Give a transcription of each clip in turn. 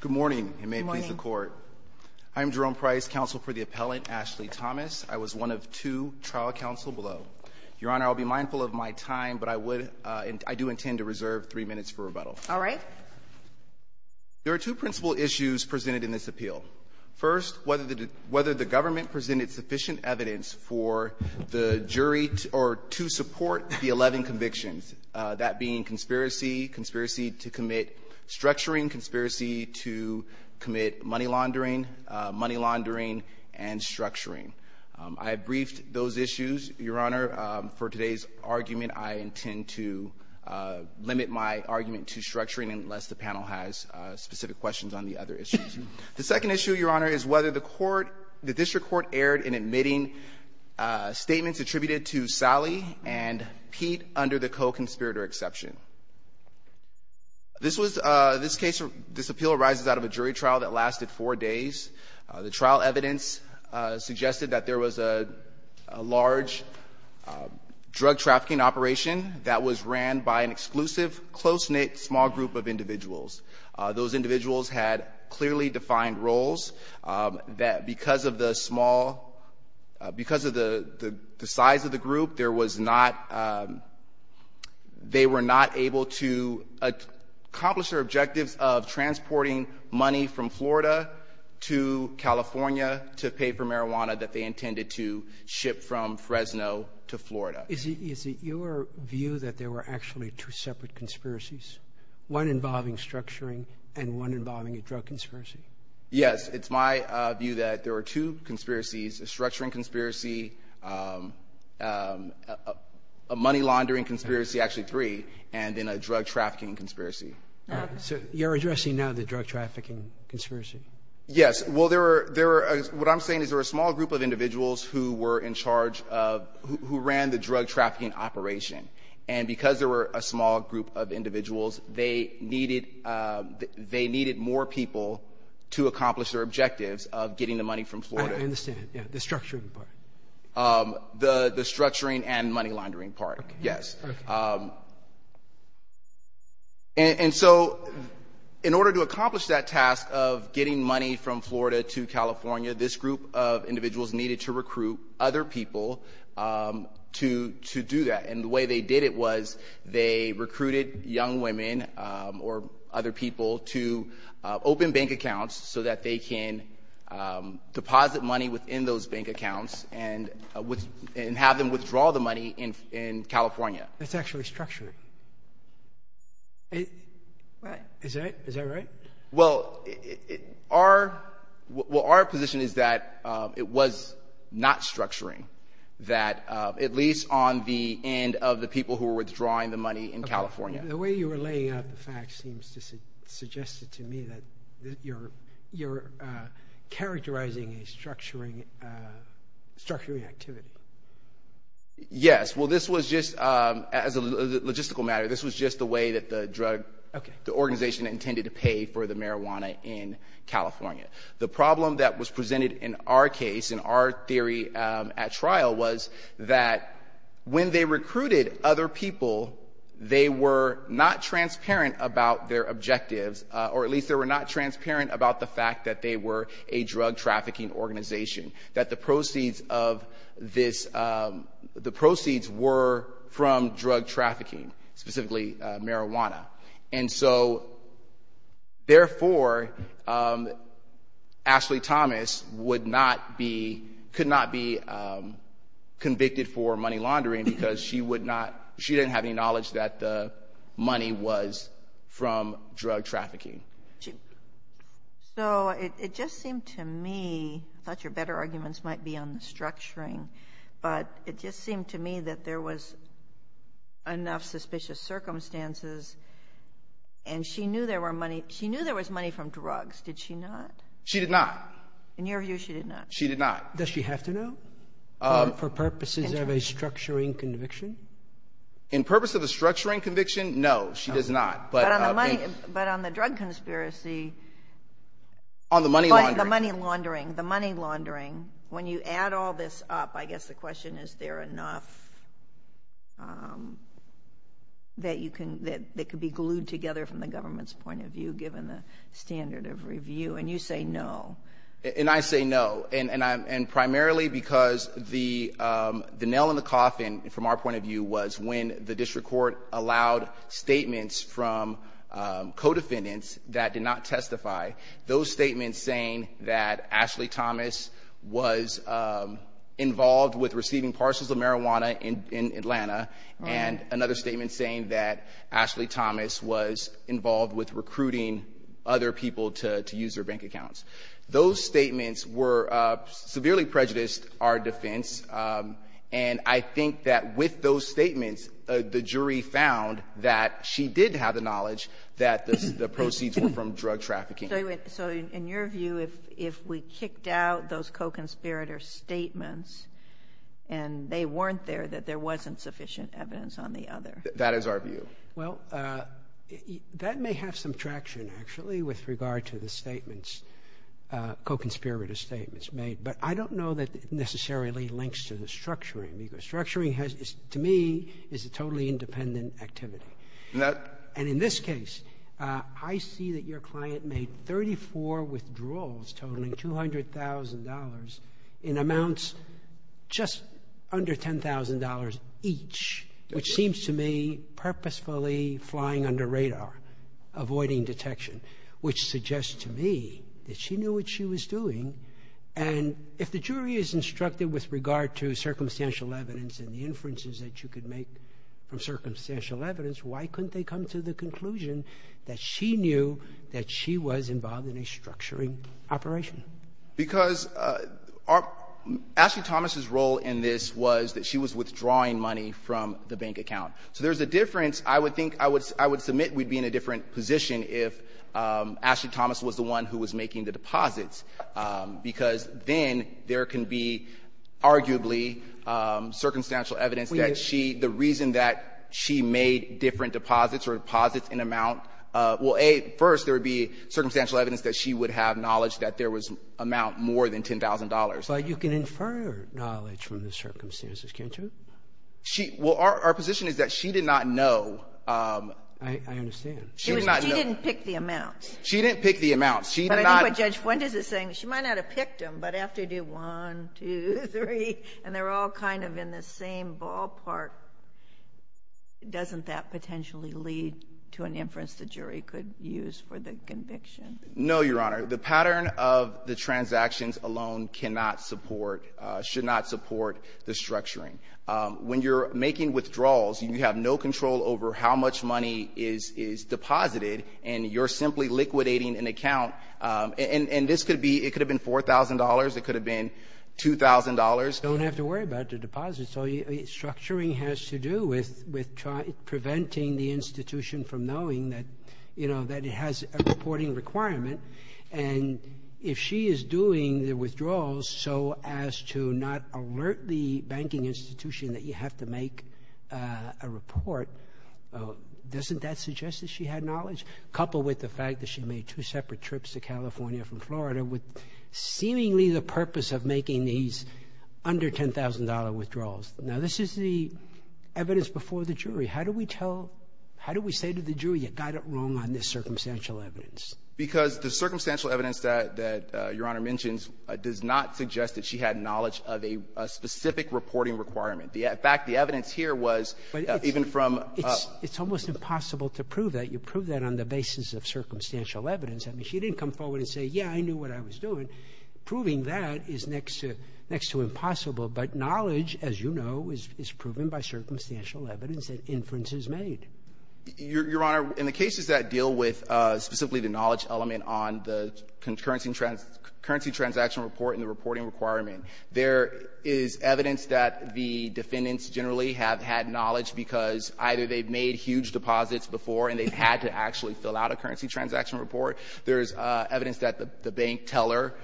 Good morning, and may it please the Court. I'm Jerome Price, counsel for the appellant Ashley Thomas. I was one of two trial counsel below. Your Honor, I'll be mindful of my time, but I do intend to reserve three minutes for rebuttal. All right. There are two principal issues presented in this appeal. First, whether the government presented sufficient evidence to support the 11 convictions, that being conspiracy, conspiracy to commit structuring, conspiracy to commit money laundering, money laundering and structuring. I briefed those issues, Your Honor. For today's argument, I intend to limit my argument to structuring unless the panel has specific questions on the other issues. The second issue, Your Honor, is whether the court, the district court erred in admitting statements attributed to Sally and Pete under the co-conspirator exception. This was, this case, this appeal arises out of a jury trial that lasted four days. The trial evidence suggested that there was a large drug trafficking operation that was ran by an exclusive, close-knit, small group of individuals. Those individuals had clearly defined roles, that because of the small, because of the size of the group, there was not, they were not able to accomplish their objectives of transporting money from Florida to California to pay for marijuana that they intended to ship from Fresno to Florida. Is it your view that there were actually two separate conspiracies, one involving structuring and one involving a drug conspiracy? Yes. It's my view that there were two conspiracies, a structuring conspiracy, a money laundering conspiracy, actually three, and then a drug trafficking conspiracy. So you're addressing now the drug trafficking conspiracy? Yes. Well, there were, there were, what I'm saying is there were a small group of individuals who were in charge of, who ran the drug trafficking operation. And because there were a small group of individuals, they needed, they needed more people to accomplish their objectives of getting the money from Florida. I understand. Yeah. The structuring part. The structuring and money laundering part. Yes. And so in order to accomplish that task of getting money from Florida to California, this group of individuals needed to recruit other people to do that. And the way they did it was they recruited young women or other people to open bank accounts so that they can deposit money within those bank accounts and have them withdraw the money in California. That's actually structuring. Is that right? Well, our, well, our position is that it was not structuring, that at least on the end of the people who were withdrawing the money in California. The way you were laying out the facts seems to suggest it to me that you're, you're characterizing a structuring, structuring activity. Yes. Well, this was just as a logistical matter, this was just the way that the drug, the organization intended to pay for the marijuana in California. The problem that was presented in our case, in our theory at trial was that when they recruited other people, they were not transparent about their objectives, or at least they were not transparent about the fact that they were a drug trafficking organization. That the proceeds of this, the proceeds were from drug trafficking, specifically marijuana. And so, therefore, Ashley Thomas would not be, could not be convicted for money laundering because she would not, she didn't have any knowledge that the money was from drug trafficking. So it just seemed to me, I thought your better arguments might be on the structuring, but it just seemed to me that there was enough suspicious circumstances, and she knew there were money, she knew there was money from drugs, did she not? She did not. In your view, she did not? She did not. Does she have to know? For purposes of a structuring conviction? In purpose of a structuring conviction, no, she does not. But on the money, but on the drug conspiracy. On the money laundering. On the money laundering, the money laundering, when you add all this up, I guess the question is there enough that you can, that could be glued together from the government's point of view given the standard of review, and you say no. And I say no, and primarily because the nail in the coffin from our point of view was when the district court allowed statements from co-defendants that did not testify, those statements saying that Ashley Thomas was involved with receiving parcels of marijuana in Atlanta, and another statement saying that Ashley Thomas was involved with recruiting other people to use their bank accounts. Those statements were, severely prejudiced our defense, and I think that with those statements, the jury found that she did have the knowledge that the proceeds were from drug trafficking. So in your view, if we kicked out those co-conspirator statements, and they weren't there, that there wasn't sufficient evidence on the other? That is our view. Well, that may have some traction actually with regard to the statements, co-conspirator statements made, but I don't know that it necessarily links to the structuring. Structuring has, to me, is a totally independent activity. And in this case, I see that your client made 34 withdrawals totaling $200,000 in amounts just under $10,000 each, which seems to me purposefully flying under radar, avoiding detection, which suggests to me that she knew what she was doing. And if the jury is instructed with regard to circumstantial evidence and the inferences that you could make from circumstantial evidence, why couldn't they come to the conclusion that she knew that she was involved in a structuring operation? Because Ashley Thomas's role in this was that she was withdrawing money from the bank account. So there's a difference. I would think, I would submit we'd be in a different position if Ashley Thomas was the one who was making the deposits, because then there can be arguably circumstantial evidence that she, the reason that she made different deposits or deposits in amount will, A, first there would be circumstantial evidence that she would have knowledge that there was amount more than $10,000. But you can infer knowledge from the circumstances, can't you? She, well, our position is that she did not know. I understand. She did not know. She didn't pick the amounts. She didn't pick the amounts. She did not. But I think what Judge Fuentes is saying, she might not have picked them, but after I do one, two, three, and they're all kind of in the same ballpark, doesn't that potentially lead to an inference the jury could use for the conviction? No, Your Honor. The pattern of the transactions alone cannot support, should not support the structuring. When you're making withdrawals, you have no control over how much money is deposited, and you're simply liquidating an account, and this could be, it could have been $4,000. It could have been $2,000. You don't have to worry about the deposits. Structuring has to do with preventing the institution from knowing that, you know, that it has a reporting requirement. And if she is doing the withdrawals so as to not alert the banking institution that you have to make a report, doesn't that suggest that she had knowledge? Coupled with the fact that she made two separate trips to California from Florida with seemingly the purpose of making these under-$10,000 withdrawals. Now, this is the evidence before the jury. How do we tell — how do we say to the jury, you got it wrong on this circumstantial evidence? Because the circumstantial evidence that Your Honor mentions does not suggest that she had knowledge of a specific reporting requirement. In fact, the evidence here was even from — It's almost impossible to prove that. You prove that on the basis of circumstantial evidence. I mean, she didn't come forward and say, yeah, I knew what I was doing. Proving that is next to impossible. But knowledge, as you know, is proven by circumstantial evidence and inferences made. Your Honor, in the cases that deal with specifically the knowledge element on the concurrency transaction report and the reporting requirement, there is evidence that the defendants generally have had knowledge because either they've made huge deposits before and they've had to actually fill out a currency transaction report. There is evidence that the bank teller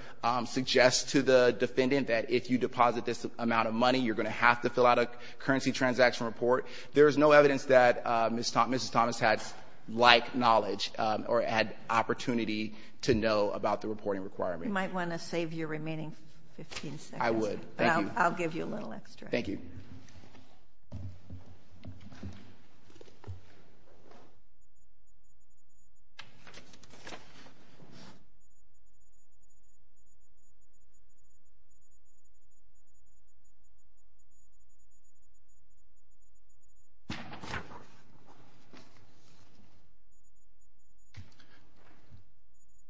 suggests to the defendant that if you deposit this amount of money, you're going to have to fill out a currency transaction report. There is no evidence that Mrs. Thomas had like knowledge or had opportunity to know about the reporting requirement. You might want to save your remaining 15 seconds. I would. Thank you. I'll give you a little extra. Thank you.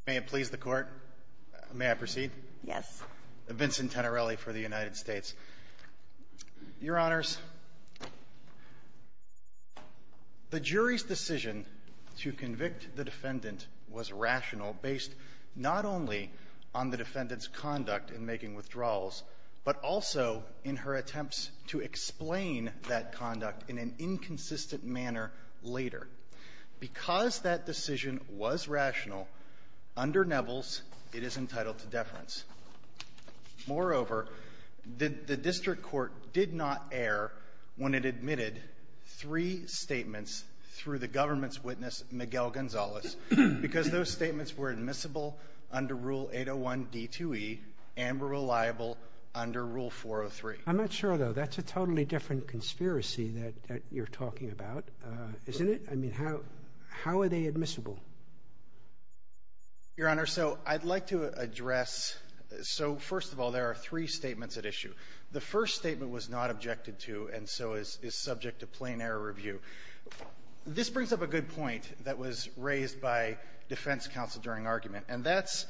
May it please the Court, may I proceed? Yes. Vincent Tenerelli for the United States. Your Honors, the jury's decision to convict the defendant was rational based not only on the defendant's conduct in making withdrawals, but also in her attempts to explain that conduct in an inconsistent manner later. Because that decision was rational, under Nevels, it is entitled to deference. Moreover, the district court did not err when it admitted three statements through the government's witness, Miguel Gonzalez, because those statements were admissible under Rule 801 D2E and were reliable under Rule 403. I'm not sure, though. That's a totally different conspiracy that you're talking about, isn't it? I mean, how are they admissible? Your Honor, so I'd like to address. So, first of all, there are three statements at issue. The first statement was not objected to and so is subject to plain error review. This brings up a good point that was raised by defense counsel during argument, and that's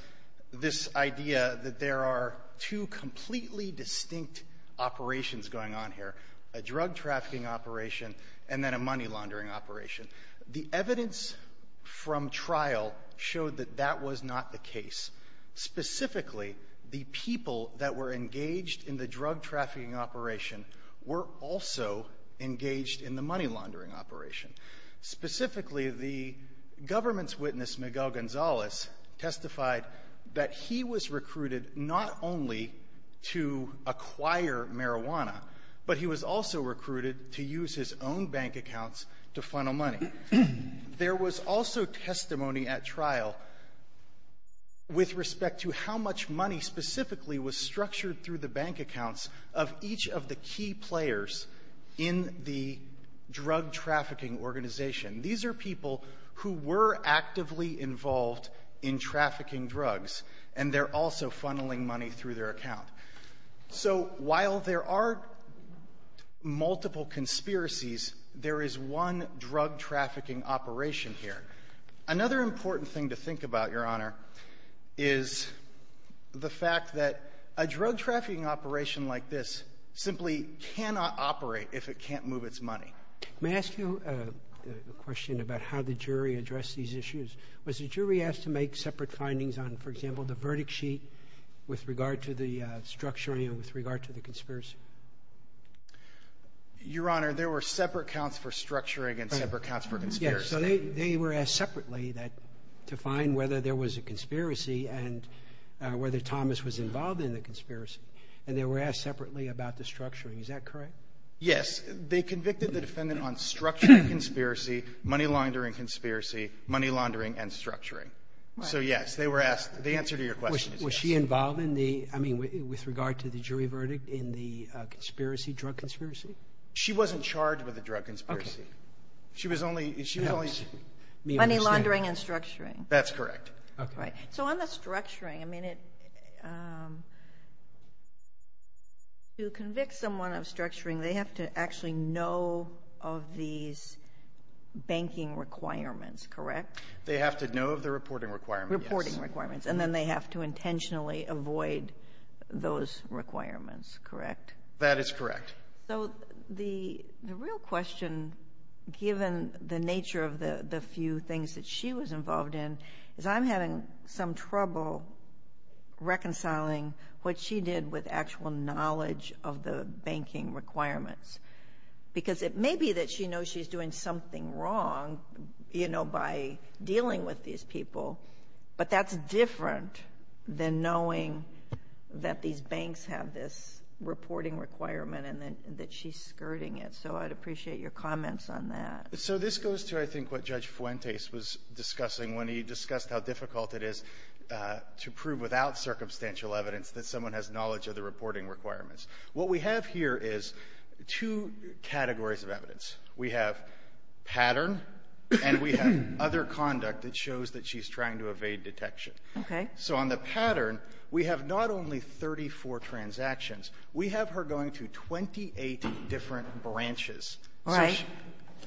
this idea that there are two completely distinct operations going on here, a drug trafficking operation and then a money laundering operation. The evidence from trial showed that that was not the case. Specifically, the people that were engaged in the drug trafficking operation were also engaged in the money laundering operation. Specifically, the government's witness, Miguel Gonzalez, testified that he was recruited not only to acquire marijuana, but he was also recruited to use his own bank accounts to funnel money. There was also testimony at trial with respect to how much money specifically was structured through the bank accounts of each of the key players in the drug trafficking organization. These are people who were actively involved in trafficking drugs, and they're also funneling money through their account. So while there are multiple conspiracies, there is one drug trafficking operation here. Another important thing to think about, Your Honor, is the fact that a drug trafficking operation like this simply cannot operate if it can't move its money. May I ask you a question about how the jury addressed these issues? Was the jury asked to make separate findings on, for example, the verdict sheet with regard to the structuring and with regard to the conspiracy? Your Honor, there were separate counts for structuring and separate counts for conspiracy. Yes, so they were asked separately to find whether there was a conspiracy and whether Thomas was involved in the conspiracy. And they were asked separately about the structuring. Is that correct? Yes. They convicted the defendant on structuring conspiracy, money laundering conspiracy, money laundering and structuring. So, yes, they were asked. The answer to your question is yes. Was she involved in the – I mean, with regard to the jury verdict in the conspiracy, drug conspiracy? She wasn't charged with a drug conspiracy. Okay. She was only – she was only – Money laundering and structuring. That's correct. Okay. So on the structuring, I mean, to convict someone of structuring, they have to actually know of these banking requirements, correct? They have to know of the reporting requirements, yes. Reporting requirements. And then they have to intentionally avoid those requirements, correct? That is correct. So the real question, given the nature of the few things that she was involved in, is I'm having some trouble reconciling what she did with actual knowledge of the banking requirements. Because it may be that she knows she's doing something wrong, you know, by dealing with these people, but that's different than knowing that these banks have this reporting requirement and that she's skirting it. So I'd appreciate your comments on that. So this goes to, I think, what Judge Fuentes was discussing when he discussed how difficult it is to prove without circumstantial evidence that someone has knowledge of the reporting requirements. What we have here is two categories of evidence. We have pattern and we have other conduct that shows that she's trying to evade detection. Okay. So on the pattern, we have not only 34 transactions. We have her going to 28 different branches. Right.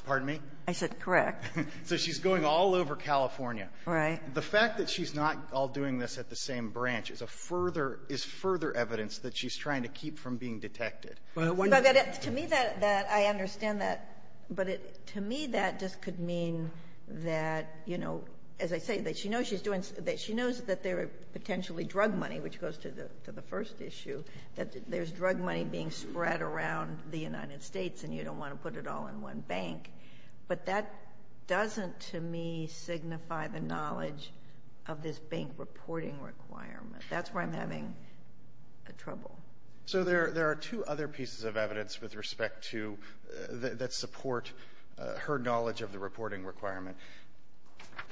Pardon me? I said correct. So she's going all over California. Right. The fact that she's not all doing this at the same branch is a further, is further evidence that she's trying to keep from being detected. To me, that, I understand that. But to me, that just could mean that, you know, as I say, that she knows she's doing, that she knows that there are potentially drug money, which goes to the first issue, that there's drug money being spread around the United States and you don't want to put it all in one bank. But that doesn't, to me, signify the knowledge of this bank reporting requirement. That's where I'm having trouble. So there are two other pieces of evidence with respect to, that support her knowledge of the reporting requirement.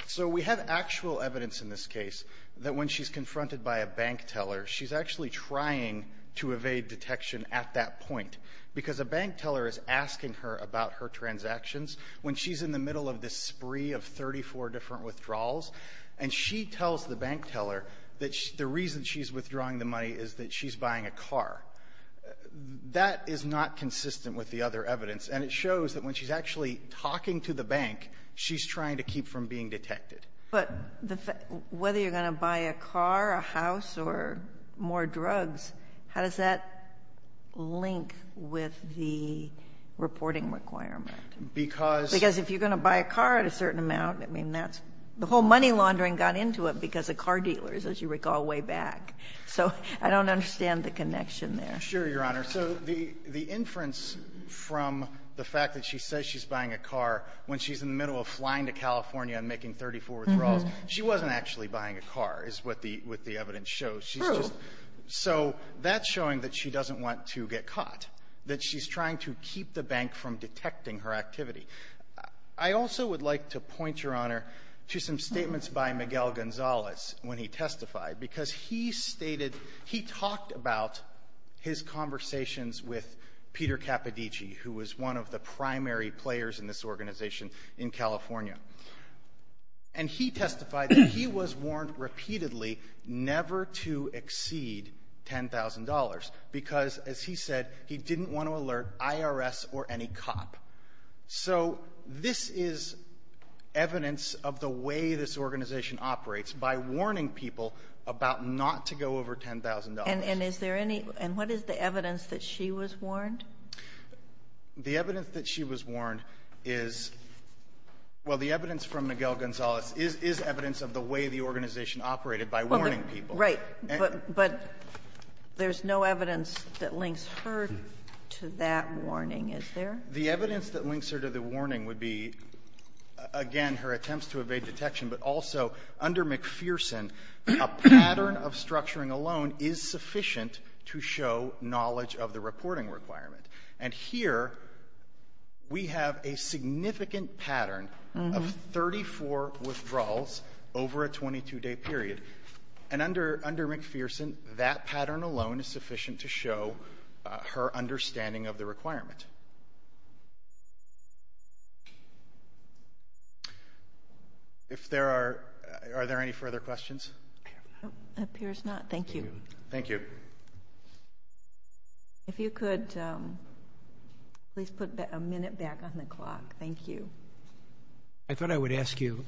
So we have actual evidence in this case that when she's confronted by a bank teller, she's actually trying to evade detection at that point, because a bank teller is asking her about her transactions when she's in the middle of this spree of 34 different withdrawals. And she tells the bank teller that the reason she's withdrawing the money is that she's buying a car. That is not consistent with the other evidence. And it shows that when she's actually talking to the bank, she's trying to keep from being detected. But whether you're going to buy a car, a house, or more drugs, how does that link with the reporting requirement? Because if you're going to buy a car at a certain amount, I mean, that's the whole money laundering got into it because of car dealers, as you recall, way back. So I don't understand the connection there. Sure, Your Honor. So the inference from the fact that she says she's buying a car when she's in the She wasn't actually buying a car, is what the evidence shows. True. So that's showing that she doesn't want to get caught, that she's trying to keep the bank from detecting her activity. I also would like to point, Your Honor, to some statements by Miguel Gonzalez when he testified, because he stated he talked about his conversations with Peter Capodici, who was one of the primary players in this organization in California. And he testified that he was warned repeatedly never to exceed $10,000 because, as he said, he didn't want to alert IRS or any cop. So this is evidence of the way this organization operates, by warning people about not to go over $10,000. And what is the evidence that she was warned? The evidence that she was warned is — well, the evidence from Miguel Gonzalez is evidence of the way the organization operated by warning people. Right. But there's no evidence that links her to that warning, is there? The evidence that links her to the warning would be, again, her attempts to evade detection, but also under McPherson, a pattern of structuring alone is sufficient to show knowledge of the reporting requirement. And here we have a significant pattern of 34 withdrawals over a 22-day period. And under McPherson, that pattern alone is sufficient to show her understanding of the requirement. If there are — are there any further questions? It appears not. Thank you. Thank you. If you could please put a minute back on the clock. Thank you. I thought I would ask you,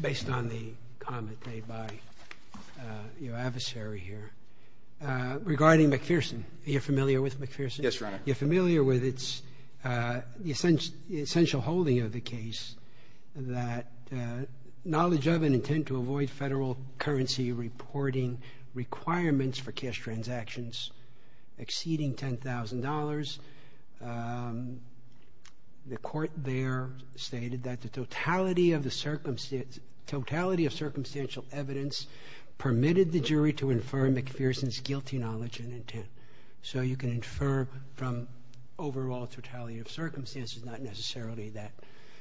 based on the comment made by your adversary here, regarding McPherson. Are you familiar with McPherson? Yes, Your Honor. You're familiar with its — the essential holding of the case that knowledge of an intent to avoid federal currency reporting requirements for cash transactions exceeding $10,000. The court there stated that the totality of the — totality of circumstantial evidence permitted the jury to infer McPherson's guilty knowledge and intent. So you can infer from overall totality of circumstances, not necessarily that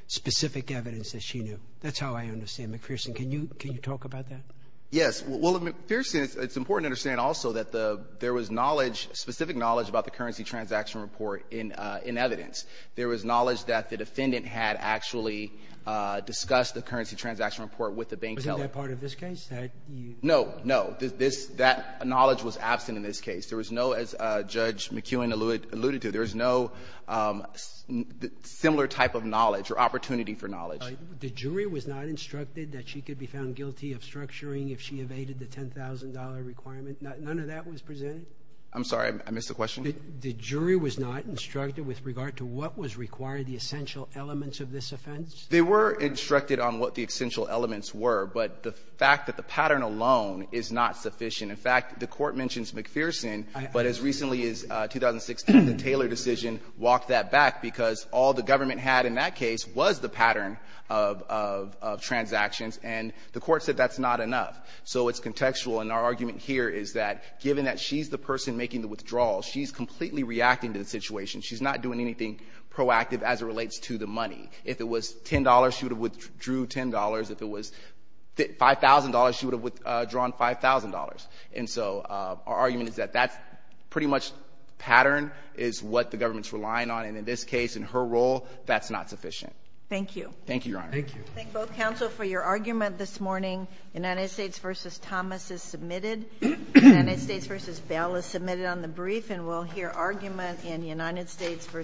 specific evidence that she knew. That's how I understand McPherson. Can you talk about that? Yes. Well, McPherson, it's important to understand also that the — there was knowledge, specific knowledge about the currency transaction report in evidence. There was knowledge that the defendant had actually discussed the currency transaction report with the bank teller. Wasn't that part of this case? No, no. That knowledge was absent in this case. There was no, as Judge McKeown alluded to, there was no similar type of knowledge or opportunity for knowledge. The jury was not instructed that she could be found guilty of structuring if she evaded the $10,000 requirement. None of that was presented? I'm sorry. I missed the question. The jury was not instructed with regard to what was required, the essential elements of this offense? They were instructed on what the essential elements were. But the fact that the pattern alone is not sufficient. In fact, the Court mentions McPherson, but as recently as 2016, the Taylor decision walked that back because all the government had in that case was the pattern of transactions, and the Court said that's not enough. So it's contextual, and our argument here is that given that she's the person making the withdrawal, she's completely reacting to the situation. She's not doing anything proactive as it relates to the money. If it was $10, she would have withdrew $10. If it was $5,000, she would have withdrawn $5,000. And so our argument is that that's pretty much pattern is what the government's relying on, and in this case, in her role, that's not sufficient. Thank you. Thank you, Your Honor. Thank you. Thank both counsel for your argument this morning. United States v. Thomas is submitted. United States v. Bell is submitted on the brief, and we'll hear argument in United States v. Sanderson.